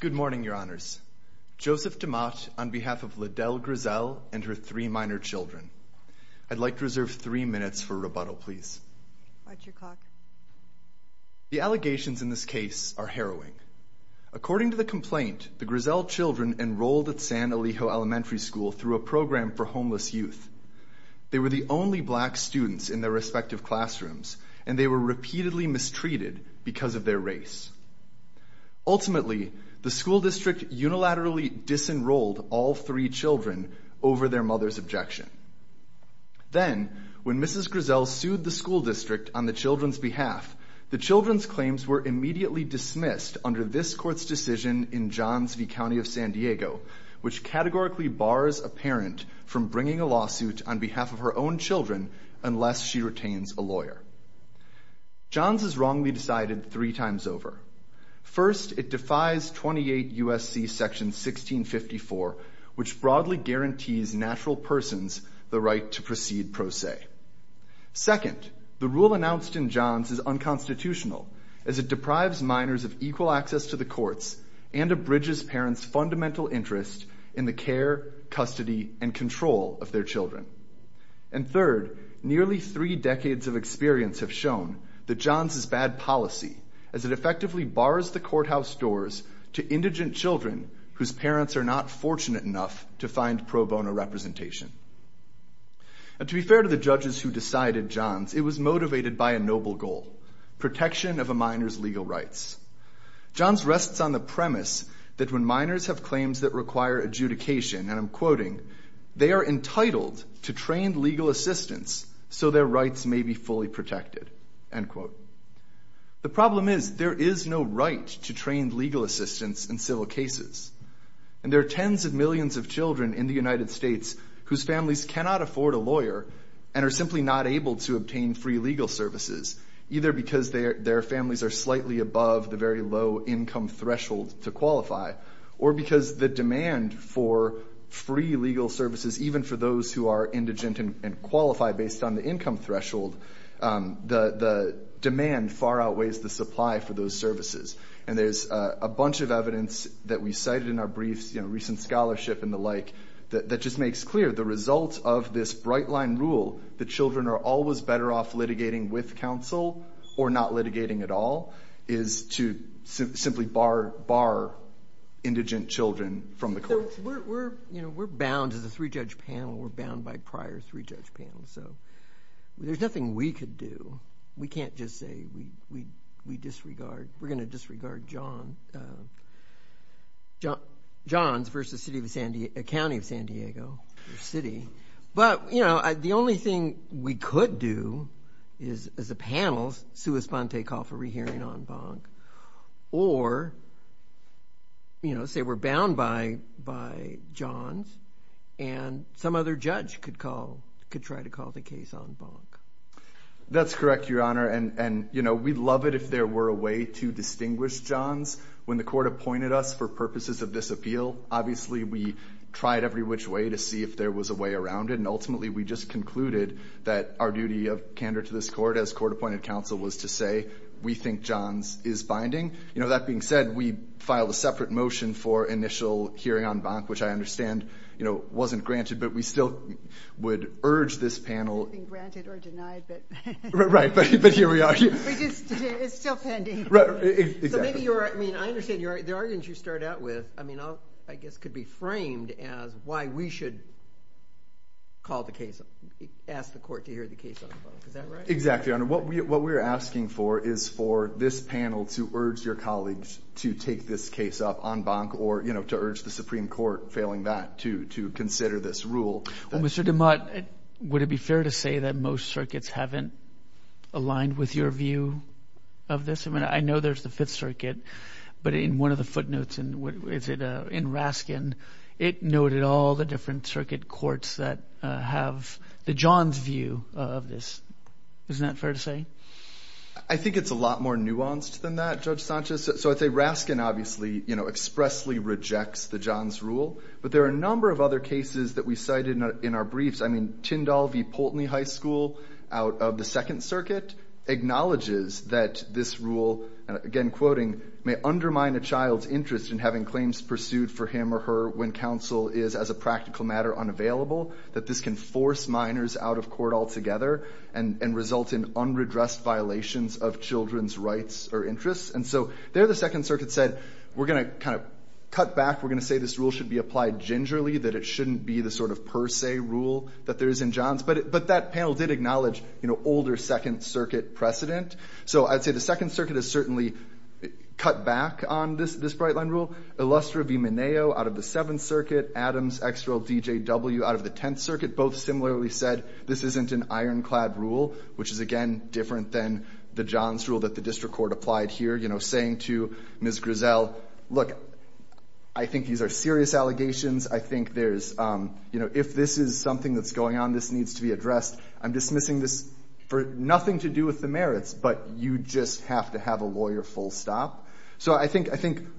Good morning, Your Honors. Joseph DeMott, on behalf of La Dell Grizzell and her three minor children. I'd like to reserve three minutes for rebuttal, please. The allegations in this case are harrowing. According to the complaint, the Grizzell children enrolled at San Elijo Elementary School through a program for homeless youth. They were the only black students in their respective classrooms, and they were repeatedly mistreated because of their race. Ultimately, the school district unilaterally disenrolled all three children over their mother's objection. Then, when Mrs. Grizzell sued the school district on the children's behalf, the children's claims were immediately dismissed under this court's decision in Johns v. County of San Diego, which categorically bars a parent from bringing a lawsuit on behalf of her own children unless she retains a lawyer. Johns is wrongly decided three times over. First, it defies 28 U.S.C. Section 1654, which broadly guarantees natural persons the right to proceed pro se. Second, the rule announced in Johns is unconstitutional, as it deprives minors of equal access to the courts and abridges parents' fundamental interest in the care, custody, and control of their children. And third, nearly three decades of experience have shown that Johns is bad policy, as it effectively bars the courthouse doors to indigent children whose parents are not fortunate enough to find pro bono representation. And to be fair to the judges who decided Johns, it was motivated by a noble goal, protection of a minor's legal rights. Johns rests on the premise that when minors have claims that require adjudication, and I'm quoting, they are entitled to trained legal assistance so their rights may be fully protected, end quote. The problem is there is no right to trained legal assistance in civil cases, and there are tens of millions of children in the United States whose families cannot afford a lawyer, and are simply not able to obtain free legal services, either because their families are slightly above the very low income threshold to qualify, or because the demand for free legal services, even for those who are indigent and qualify based on the income threshold, the demand far outweighs the supply for those services. And there's a bunch of evidence that we cited in our briefs, you know, recent scholarship and the like, that just makes clear the results of this bright line rule that children are always better off litigating with counsel or not litigating at all is to simply bar indigent children from the courts. We're bound as a three-judge panel. We're bound by prior three-judge panels. So there's nothing we could do. We can't just say we disregard. We're going to disregard Johns versus a county of San Diego or city. But, you know, the only thing we could do is, as a panel, sui sponte call for rehearing en banc, or, you know, say we're bound by Johns, and some other judge could try to call the case en banc. That's correct, Your Honor, and, you know, we'd love it if there were a way to distinguish Johns. When the court appointed us for purposes of this appeal, obviously we tried every which way to see if there was a way around it, and ultimately we just concluded that our duty of candor to this court as court-appointed counsel was to say we think Johns is binding. You know, that being said, we filed a separate motion for initial hearing en banc, which I understand, you know, wasn't granted, but we still would urge this panel. It's not being granted or denied, but... Right, but here we are. It's still pending. Right, exactly. So maybe you're, I mean, I understand the arguments you start out with, I mean, I guess could be framed as why we should call the case, ask the court to hear the case en banc. Is that right? Exactly, Your Honor. What we're asking for is for this panel to urge your colleagues to take this case up en banc or, you know, to urge the Supreme Court, failing that, to consider this rule. Well, Mr. DeMott, would it be fair to say that most circuits haven't aligned with your view of this? I mean, I know there's the Fifth Circuit, but in one of the footnotes in Raskin, it noted all the different circuit courts that have the Johns view of this. Isn't that fair to say? I think it's a lot more nuanced than that, Judge Sanchez. So I'd say Raskin obviously, you know, expressly rejects the Johns rule, but there are a number of other cases that we cited in our briefs. I mean, Tyndall v. Poltny High School out of the Second Circuit acknowledges that this rule, again, quoting, may undermine a child's interest in having claims pursued for him or her when counsel is, as a practical matter, unavailable, that this can force minors out of court altogether and result in unredressed violations of children's rights or interests. And so there the Second Circuit said, we're going to kind of cut back. We're going to say this rule should be applied gingerly, that it shouldn't be the sort of per se rule that there is in Johns. But that panel did acknowledge, you know, older Second Circuit precedent. So I'd say the Second Circuit has certainly cut back on this Bright Line rule. Illustra v. Mineo out of the Seventh Circuit, Adams, Exrill, DJW out of the Tenth Circuit both similarly said this isn't an ironclad rule, which is, again, different than the Johns rule that the district court applied here, you know, saying to Ms. Grisell, look, I think these are serious allegations. I think there's, you know, if this is something that's going on, this needs to be addressed. I'm dismissing this for nothing to do with the merits, but you just have to have a lawyer full stop. So I think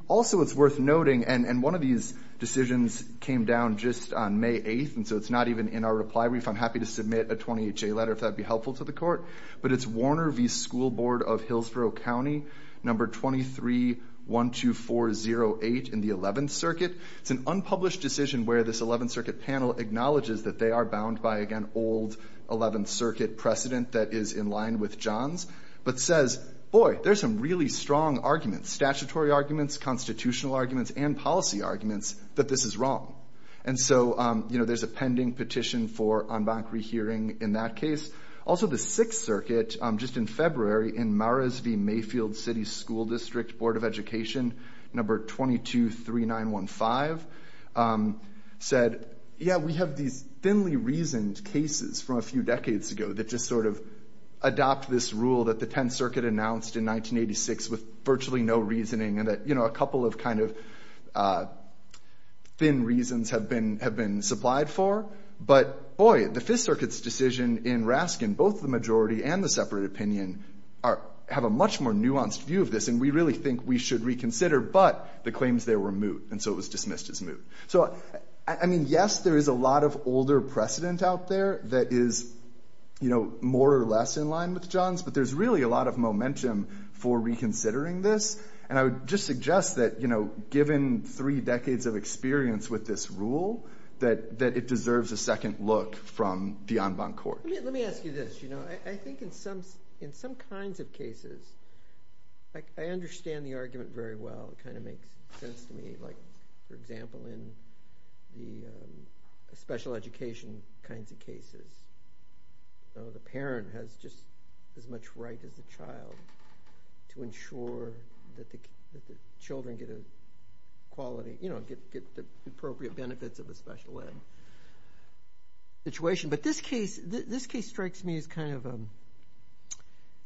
also it's worth noting, and one of these decisions came down just on May 8th, and so it's not even in our reply brief. I'm happy to submit a 28-J letter if that would be helpful to the court. But it's Warner v. School Board of Hillsborough County, number 23-12408 in the Eleventh Circuit. It's an unpublished decision where this Eleventh Circuit panel acknowledges that they are bound by, again, old Eleventh Circuit precedent that is in line with Johns, but says, boy, there's some really strong arguments, statutory arguments, constitutional arguments, and policy arguments that this is wrong. And so, you know, there's a pending petition for en banc rehearing in that case. Also, the Sixth Circuit just in February in Maras v. Mayfield City School District Board of Education, number 22-3915, said, yeah, we have these thinly reasoned cases from a few decades ago that just sort of adopt this rule that the Tenth Circuit announced in 1986 with virtually no reasoning and that, you know, a couple of kind of thin reasons have been supplied for. But, boy, the Fifth Circuit's decision in Raskin, both the majority and the separate opinion, have a much more nuanced view of this, and we really think we should reconsider, but the claims there were moot, and so it was dismissed as moot. So, I mean, yes, there is a lot of older precedent out there that is, you know, more or less in line with Johns, but there's really a lot of momentum for reconsidering this. And I would just suggest that, you know, given three decades of experience with this rule, that it deserves a second look from the en banc court. Let me ask you this. You know, I think in some kinds of cases, I understand the argument very well. It kind of makes sense to me. Like, for example, in the special education kinds of cases, the parent has just as much right as the child to ensure that the children get a quality, you know, get the appropriate benefits of a special ed situation. But this case strikes me as kind of,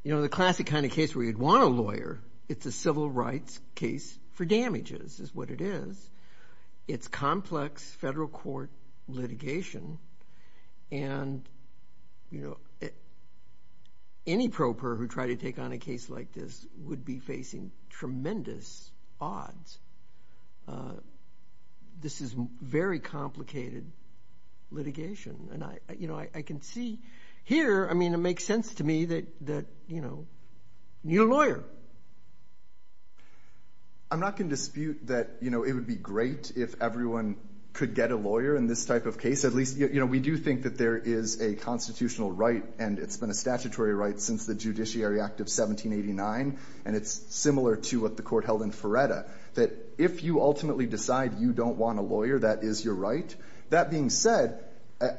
you know, the classic kind of case where you'd want a lawyer. It's a civil rights case for damages, is what it is. It's complex federal court litigation. And, you know, any pro per who tried to take on a case like this would be facing tremendous odds. This is very complicated litigation. And, you know, I can see here, I mean, it makes sense to me that, you know, you need a lawyer. But I'm not going to dispute that, you know, it would be great if everyone could get a lawyer in this type of case. At least, you know, we do think that there is a constitutional right, and it's been a statutory right since the Judiciary Act of 1789. And it's similar to what the court held in Feretta, that if you ultimately decide you don't want a lawyer, that is your right. That being said,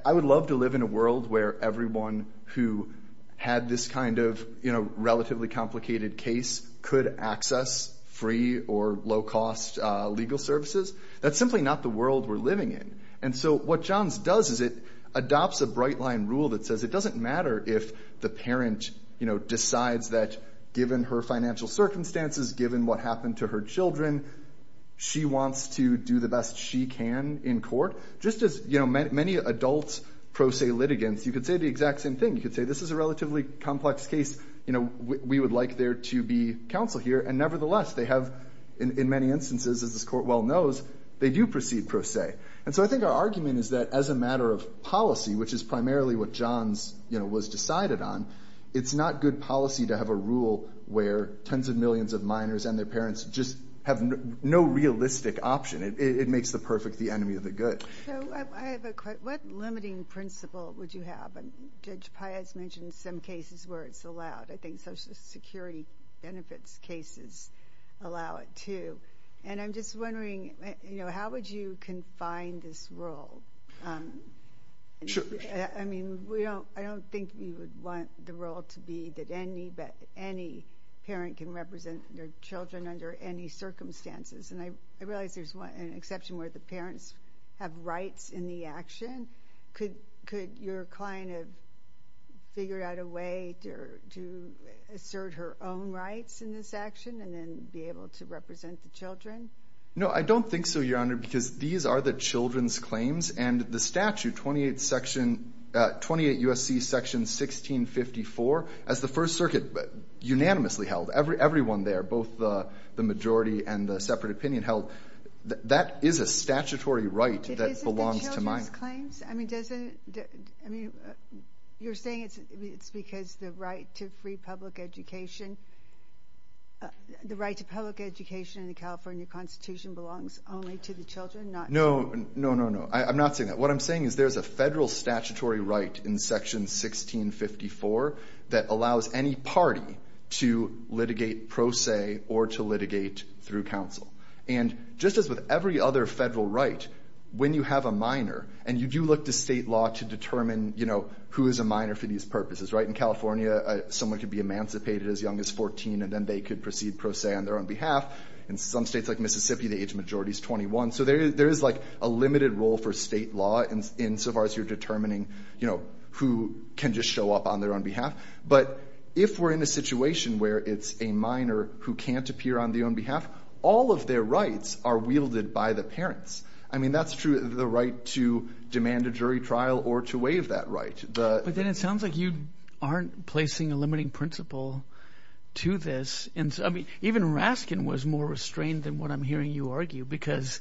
I would love to live in a world where everyone who had this kind of, you know, relatively complicated case could access free or low-cost legal services. That's simply not the world we're living in. And so what Johns does is it adopts a bright-line rule that says it doesn't matter if the parent, you know, decides that given her financial circumstances, given what happened to her children, she wants to do the best she can in court. Just as, you know, many adults pro se litigants, you could say the exact same thing. You could say this is a relatively complex case, you know, we would like there to be counsel here. And nevertheless, they have, in many instances, as this court well knows, they do proceed pro se. And so I think our argument is that as a matter of policy, which is primarily what Johns, you know, was decided on, it's not good policy to have a rule where tens of millions of minors and their parents just have no realistic option. It makes the perfect the enemy of the good. So I have a question. What limiting principle would you have? And Judge Piatt's mentioned some cases where it's allowed. I think Social Security benefits cases allow it too. And I'm just wondering, you know, how would you confine this rule? Sure. I mean, I don't think you would want the rule to be that any parent can represent their children under any circumstances. And I realize there's an exception where the parents have rights in the action. Could your client have figured out a way to assert her own rights in this action and then be able to represent the children? No, I don't think so, Your Honor, because these are the children's claims. And the statute, 28 section – 28 U.S.C. section 1654, as the First Circuit unanimously held, everyone there, both the majority and the separate opinion held, that is a statutory right that belongs to mine. If it isn't the children's claims, I mean, doesn't – I mean, you're saying it's because the right to free public education – the right to public education in the California Constitution belongs only to the children, not – No, no, no, no. I'm not saying that. What I'm saying is there's a federal statutory right in section 1654 that allows any party to litigate pro se or to litigate through counsel. And just as with every other federal right, when you have a minor – and you do look to state law to determine, you know, who is a minor for these purposes, right? In California, someone could be emancipated as young as 14, and then they could proceed pro se on their own behalf. In some states like Mississippi, the age majority is 21. So there is, like, a limited role for state law insofar as you're determining, you know, who can just show up on their own behalf. But if we're in a situation where it's a minor who can't appear on their own behalf, all of their rights are wielded by the parents. I mean, that's true – the right to demand a jury trial or to waive that right. But then it sounds like you aren't placing a limiting principle to this. And, I mean, even Raskin was more restrained than what I'm hearing you argue because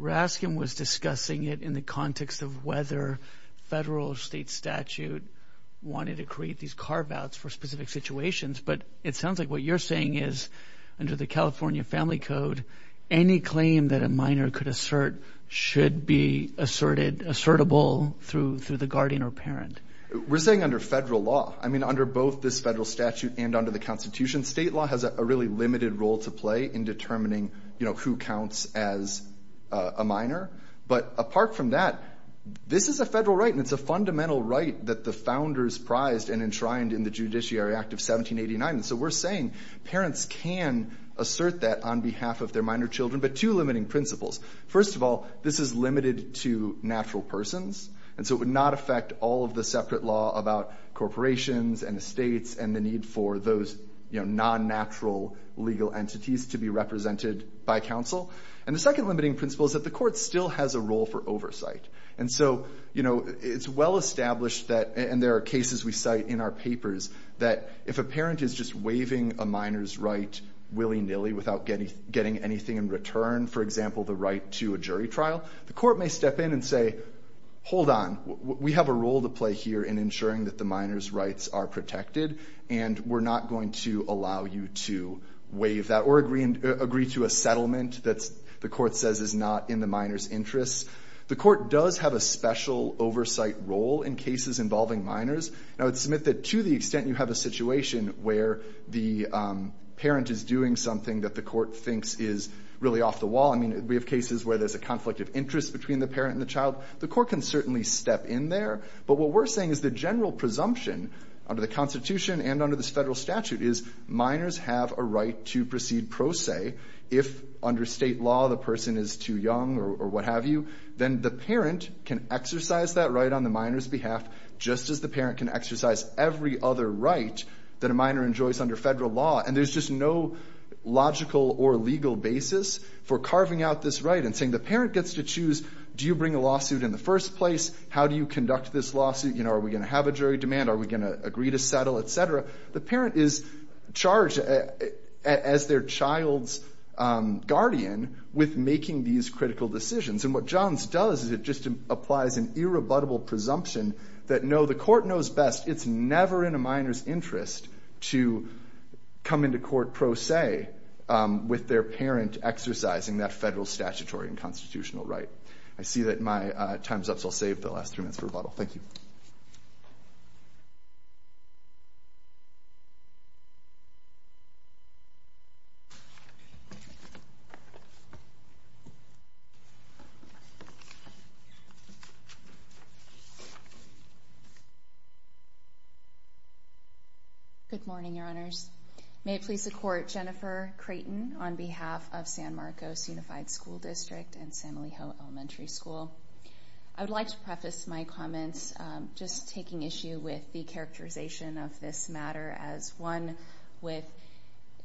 Raskin was discussing it in the context of whether federal or state statute wanted to create these carve-outs for specific situations. But it sounds like what you're saying is under the California Family Code, any claim that a minor could assert should be asserted – assertable through the guardian or parent. We're saying under federal law. I mean, under both this federal statute and under the Constitution, state law has a really limited role to play in determining, you know, who counts as a minor. But apart from that, this is a federal right, and it's a fundamental right that the founders prized and enshrined in the Judiciary Act of 1789. And so we're saying parents can assert that on behalf of their minor children, but two limiting principles. First of all, this is limited to natural persons, and so it would not affect all of the separate law about corporations and estates and the need for those non-natural legal entities to be represented by counsel. And the second limiting principle is that the court still has a role for oversight. And so, you know, it's well established that – and there are cases we cite in our papers – that if a parent is just waiving a minor's right willy-nilly without getting anything in return, for example, the right to a jury trial, the court may step in and say, hold on, we have a role to play here in ensuring that the minor's rights are protected, and we're not going to allow you to waive that or agree to a settlement that the court says is not in the minor's interests. The court does have a special oversight role in cases involving minors. I would submit that to the extent you have a situation where the parent is doing something that the court thinks is really off the wall – I mean, we have cases where there's a conflict of interest between the parent and the child – the court can certainly step in there. But what we're saying is the general presumption under the Constitution and under this Federal statute is minors have a right to proceed pro se if, under State law, the person is too young or what have you. Then the parent can exercise that right on the minor's behalf, just as the parent can exercise every other right that a minor enjoys under Federal law. And there's just no logical or legal basis for carving out this right and saying the parent gets to choose, do you bring a lawsuit in the first place? How do you conduct this lawsuit? Are we going to have a jury demand? Are we going to agree to settle, et cetera? The parent is charged as their child's guardian with making these critical decisions. And what Johns does is it just applies an irrebuttable presumption that, no, the court knows best. It's never in a minor's interest to come into court pro se with their parent exercising that Federal statutory and constitutional right. I see that my time's up, so I'll save the last three minutes for rebuttal. Thank you. Good morning, Your Honors. May it please the Court, Jennifer Creighton on behalf of San Marcos Unified School District and San Elijo Elementary School. I would like to preface my comments just taking issue with the characterization of this matter as one with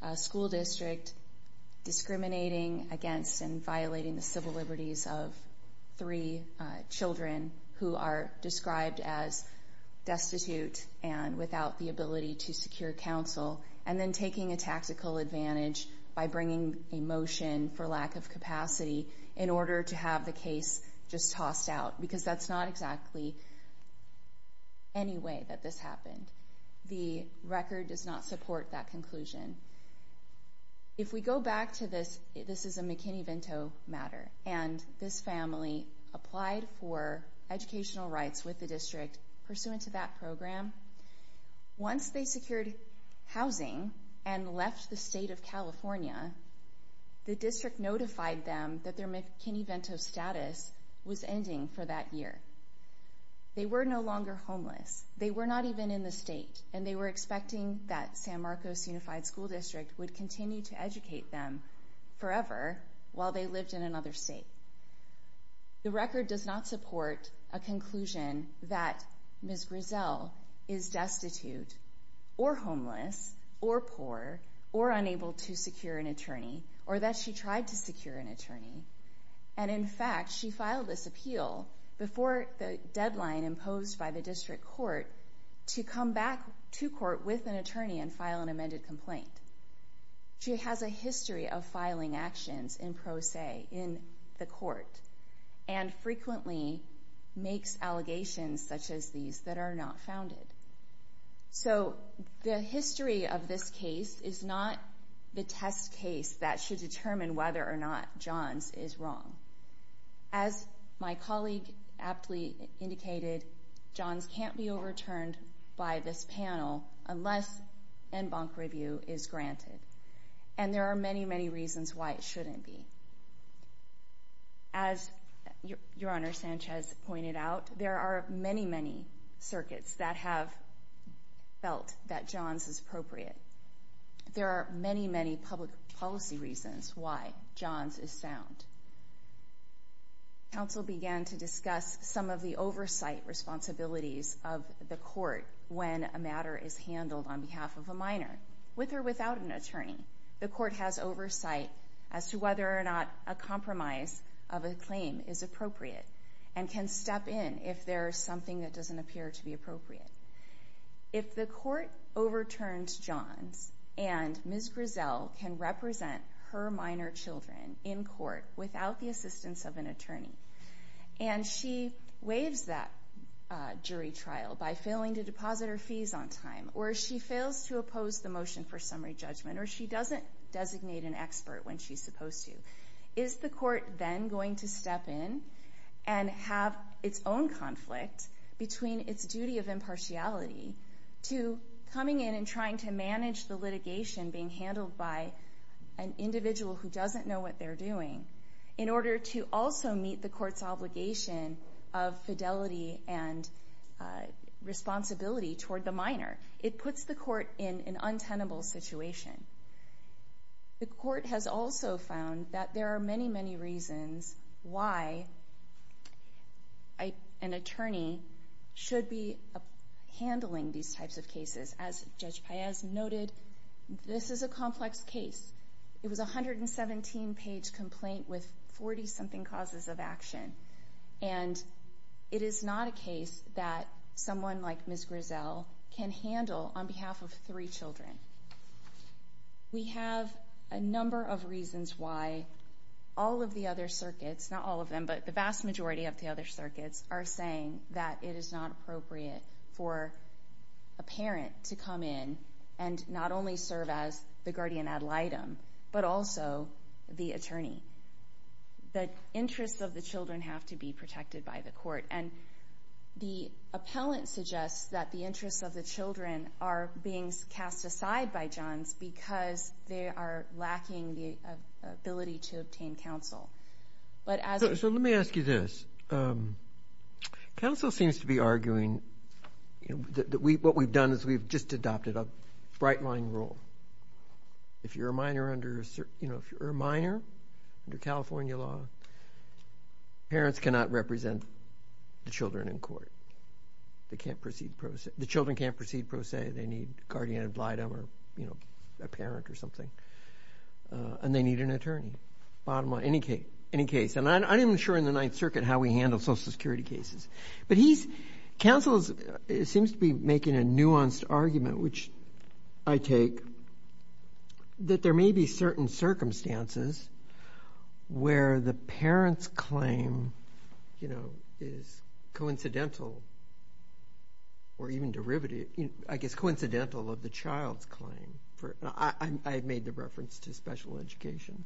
a school district discriminating against and violating the civil liberties of three children who are described as destitute and without the ability to secure counsel and then taking a tactical advantage by bringing a motion for lack of capacity in order to have the case just tossed out because that's not exactly any way that this happened. The record does not support that conclusion. If we go back to this, this is a McKinney-Vento matter, and this family applied for educational rights with the district pursuant to that program. Once they secured housing and left the state of California, the district notified them that their McKinney-Vento status was ending for that year. They were no longer homeless. They were not even in the state, and they were expecting that San Marcos Unified School District would continue to educate them forever while they lived in another state. The record does not support a conclusion that Ms. Grizel is destitute or homeless or poor or unable to secure an attorney or that she tried to secure an attorney. In fact, she filed this appeal before the deadline imposed by the district court to come back to court with an attorney and file an amended complaint. She has a history of filing actions in pro se in the court and frequently makes allegations such as these that are not founded. So the history of this case is not the test case that should determine whether or not Johns is wrong. As my colleague aptly indicated, Johns can't be overturned by this panel unless en banc review is granted, and there are many, many reasons why it shouldn't be. As Your Honor Sanchez pointed out, there are many, many circuits that have felt that Johns is appropriate. There are many, many public policy reasons why Johns is sound. Counsel began to discuss some of the oversight responsibilities of the court when a matter is handled on behalf of a minor, with or without an attorney. The court has oversight as to whether or not a compromise of a claim is appropriate and can step in if there is something that doesn't appear to be appropriate. If the court overturned Johns and Ms. Grizel can represent her minor children in court without the assistance of an attorney and she waives that jury trial by failing to deposit her fees on time or she fails to oppose the motion for summary judgment or she doesn't designate an expert when she's supposed to, is the court then going to step in and have its own conflict between its duty of impartiality to coming in and trying to manage the litigation being handled by an individual who doesn't know what they're doing in order to also meet the court's obligation of fidelity and responsibility toward the minor. It puts the court in an untenable situation. The court has also found that there are many, many reasons why an attorney should be handling these types of cases. As Judge Paez noted, this is a complex case. It was a 117-page complaint with 40-something causes of action. And it is not a case that someone like Ms. Grizel can handle on behalf of three children. We have a number of reasons why all of the other circuits, not all of them, but the vast majority of the other circuits are saying that it is not appropriate for a parent to come in and not only serve as the guardian ad litem but also the attorney. The interests of the children have to be protected by the court. And the appellant suggests that the interests of the children are being cast aside by Johns because they are lacking the ability to obtain counsel. So let me ask you this. Counsel seems to be arguing that what we've done is we've just adopted a bright-line rule. If you're a minor under California law, parents cannot represent the children in court. The children can't proceed pro se. They need guardian ad litem or a parent or something. And they need an attorney, bottom line, any case. And I'm not even sure in the Ninth Circuit how we handle Social Security cases. But counsel seems to be making a nuanced argument, which I take, that there may be certain circumstances where the parent's claim is coincidental or even derivative, I guess coincidental, of the child's claim. I've made the reference to special education.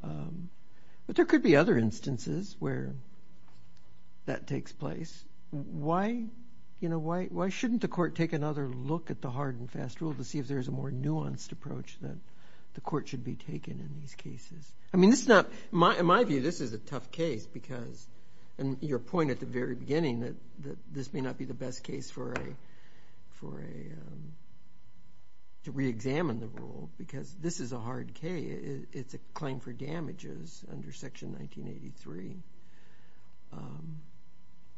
But there could be other instances where that takes place. Why shouldn't the court take another look at the hard and fast rule to see if there's a more nuanced approach that the court should be taking in these cases? In my view, this is a tough case because, and your point at the very beginning, that this may not be the best case to reexamine the rule because this is a hard case. It's a claim for damages under Section 1983.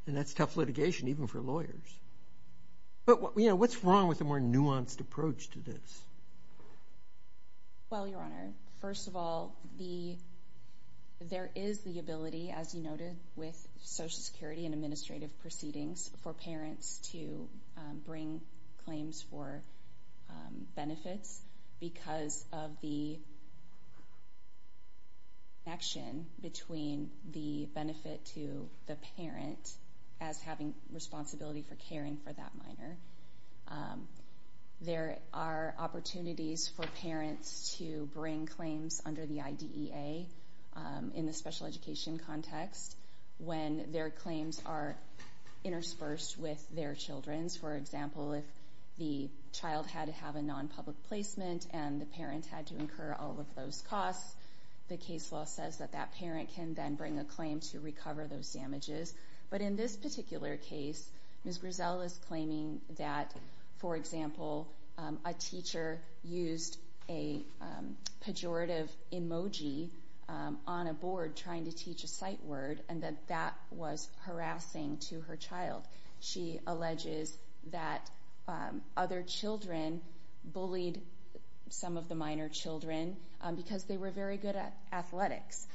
And that's tough litigation even for lawyers. But what's wrong with a more nuanced approach to this? Well, Your Honor, first of all, there is the ability, as you noted, with Social Security and administrative proceedings for parents to bring claims for benefits because of the connection between the benefit to the parent as having responsibility for caring for that minor. There are opportunities for parents to bring claims under the IDEA in the special education context when their claims are interspersed with their children's. For example, if the child had to have a nonpublic placement and the parent had to incur all of those costs, the case law says that that parent can then bring a claim to recover those damages. But in this particular case, Ms. Griselle is claiming that, for example, a teacher used a pejorative emoji on a board trying to teach a sight word and that that was harassing to her child. She alleges that other children bullied some of the minor children because they were very good at athletics.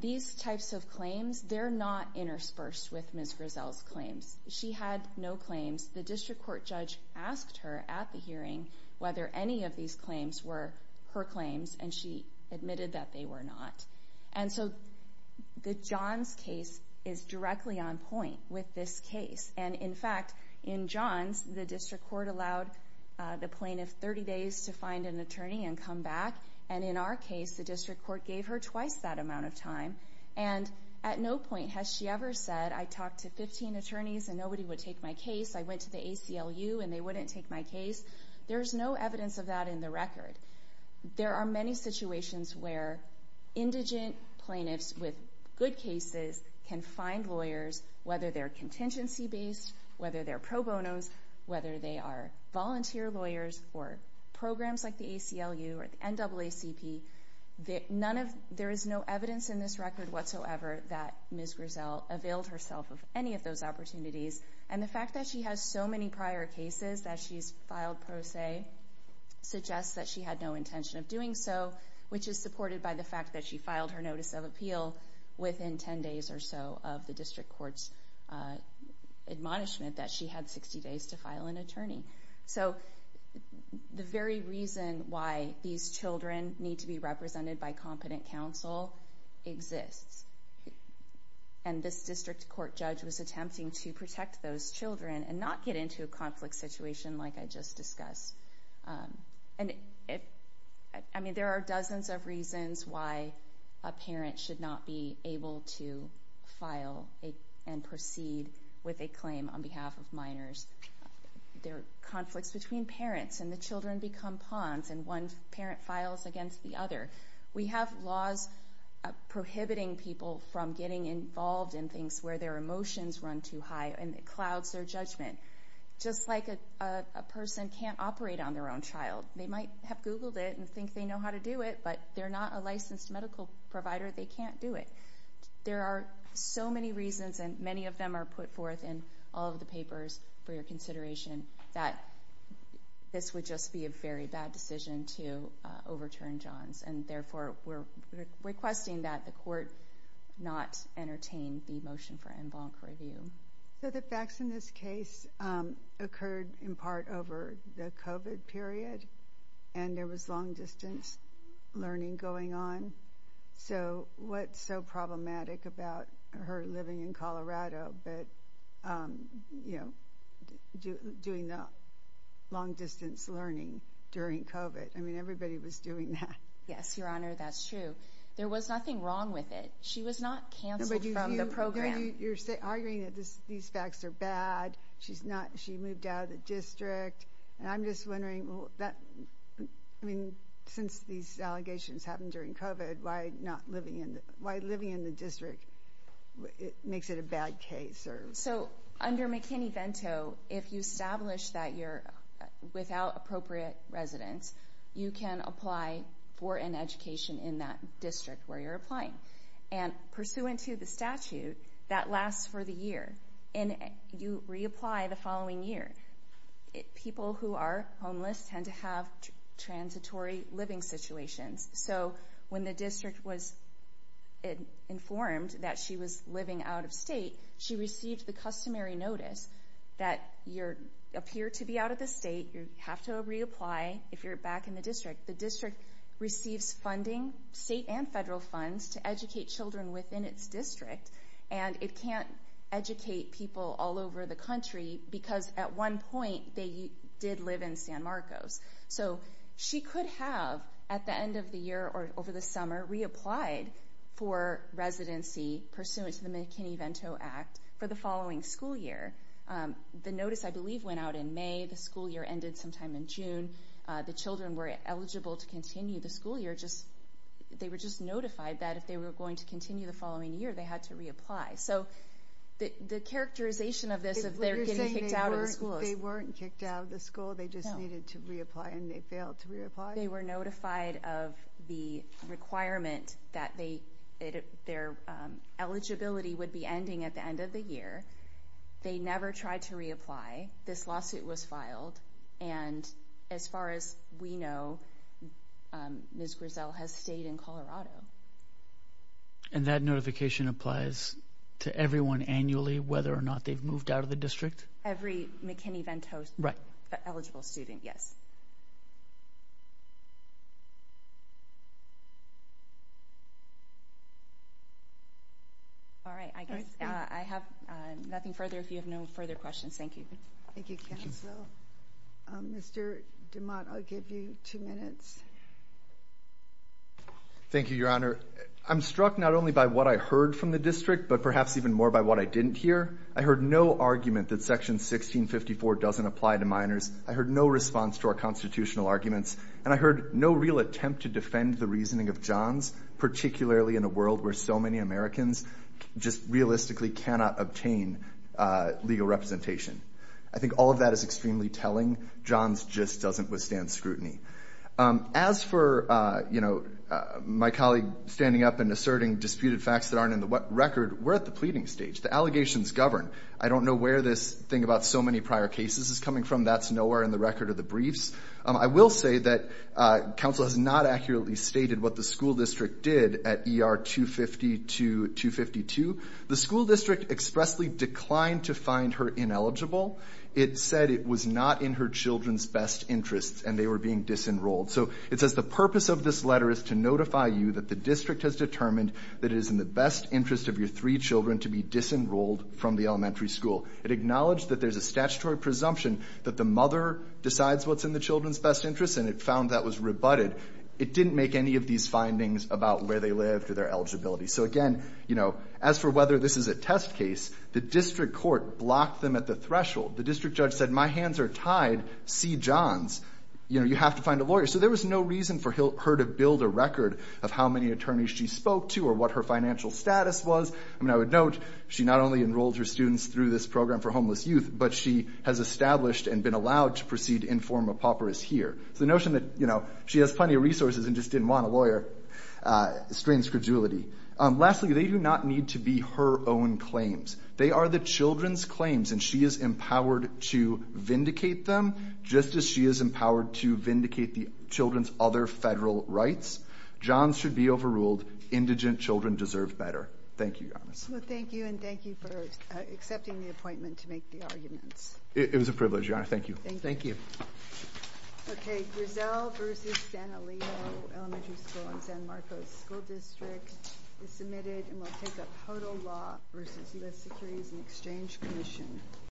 These types of claims, they're not interspersed with Ms. Griselle's claims. She had no claims. The district court judge asked her at the hearing whether any of these claims were her claims, and she admitted that they were not. And so the Johns case is directly on point with this case. And, in fact, in Johns, the district court allowed the plaintiff 30 days to find an attorney and come back, and in our case the district court gave her twice that amount of time. And at no point has she ever said, I talked to 15 attorneys and nobody would take my case. I went to the ACLU and they wouldn't take my case. There's no evidence of that in the record. There are many situations where indigent plaintiffs with good cases can find lawyers, whether they're contingency-based, whether they're pro bonos, whether they are volunteer lawyers or programs like the ACLU or the NAACP. There is no evidence in this record whatsoever that Ms. Griselle availed herself of any of those opportunities, and the fact that she has so many prior cases that she's filed pro se suggests that she had no intention of doing so, which is supported by the fact that she filed her notice of appeal within 10 days or so of the district court's admonishment that she had 60 days to file an attorney. So the very reason why these children need to be represented by competent counsel exists, and this district court judge was attempting to protect those children and not get into a conflict situation like I just discussed. I mean, there are dozens of reasons why a parent should not be able to file and proceed with a claim on behalf of minors. There are conflicts between parents, and the children become pawns, and one parent files against the other. We have laws prohibiting people from getting involved in things where their emotions run too high and it clouds their judgment. Just like a person can't operate on their own child. They might have Googled it and think they know how to do it, but they're not a licensed medical provider. They can't do it. There are so many reasons, and many of them are put forth in all of the papers for your consideration that this would just be a very bad decision to overturn Johns, and therefore we're requesting that the court not entertain the motion for en banc review. So the facts in this case occurred in part over the COVID period, and there was long-distance learning going on. So what's so problematic about her living in Colorado but doing the long-distance learning during COVID? I mean, everybody was doing that. Yes, Your Honor, that's true. There was nothing wrong with it. She was not canceled from the program. But you're arguing that these facts are bad. She moved out of the district. And I'm just wondering, I mean, since these allegations happened during COVID, why living in the district makes it a bad case? So under McKinney-Vento, if you establish that you're without appropriate residence, you can apply for an education in that district where you're applying. And pursuant to the statute, that lasts for the year, and you reapply the following year. People who are homeless tend to have transitory living situations. So when the district was informed that she was living out of state, she received the customary notice that you appear to be out of the state, you have to reapply if you're back in the district. The district receives funding, state and federal funds, to educate children within its district, and it can't educate people all over the country because, at one point, they did live in San Marcos. So she could have, at the end of the year or over the summer, reapplied for residency pursuant to the McKinney-Vento Act for the following school year. The notice, I believe, went out in May. The school year ended sometime in June. The children were eligible to continue the school year. They were just notified that if they were going to continue the following year, they had to reapply. So the characterization of this is they're getting kicked out of the school. They weren't kicked out of the school. They just needed to reapply, and they failed to reapply? They were notified of the requirement that their eligibility would be ending at the end of the year. They never tried to reapply. This lawsuit was filed, and, as far as we know, Ms. Grizzell has stayed in Colorado. And that notification applies to everyone annually, whether or not they've moved out of the district? Every McKinney-Vento-eligible student, yes. All right. I guess I have nothing further. If you have no further questions, thank you. Thank you, counsel. Mr. DeMott, I'll give you two minutes. Thank you, Your Honor. I'm struck not only by what I heard from the district, but perhaps even more by what I didn't hear. I heard no argument that Section 1654 doesn't apply to minors. I heard no response to our constitutional arguments. And I heard no real attempt to defend the reasoning of Johns, particularly in a world where so many Americans just realistically cannot obtain legal representation. I think all of that is extremely telling. Johns just doesn't withstand scrutiny. As for my colleague standing up and asserting disputed facts that aren't in the record, we're at the pleading stage. The allegations govern. I don't know where this thing about so many prior cases is coming from. That's nowhere in the record of the briefs. I will say that counsel has not accurately stated what the school district did at ER 252-252. The school district expressly declined to find her ineligible. It said it was not in her children's best interests and they were being disenrolled. So it says, The purpose of this letter is to notify you that the district has determined that it is in the best interest of your three children to be disenrolled from the elementary school. It acknowledged that there's a statutory presumption that the mother decides what's in the children's best interests and it found that was rebutted. It didn't make any of these findings about where they lived or their eligibility. So, again, as for whether this is a test case, the district court blocked them at the threshold. The district judge said, My hands are tied. See Johns. You have to find a lawyer. So there was no reason for her to build a record of how many attorneys she spoke to or what her financial status was. I mean, I would note she not only enrolled her students through this program for homeless youth, but she has established and been allowed to proceed in form of papyrus here. So the notion that, you know, she has plenty of resources and just didn't want a lawyer strains credulity. Lastly, they do not need to be her own claims. They are the children's claims, and she is empowered to vindicate them, just as she is empowered to vindicate the children's other federal rights. Johns should be overruled. Indigent children deserve better. Thank you, Your Honor. Well, thank you, and thank you for accepting the appointment to make the arguments. It was a privilege, Your Honor. Thank you. Thank you. Okay. Griselle v. San Elido Elementary School in San Marcos School District is submitted and will take up total law v. U.S. Securities and Exchange Commission.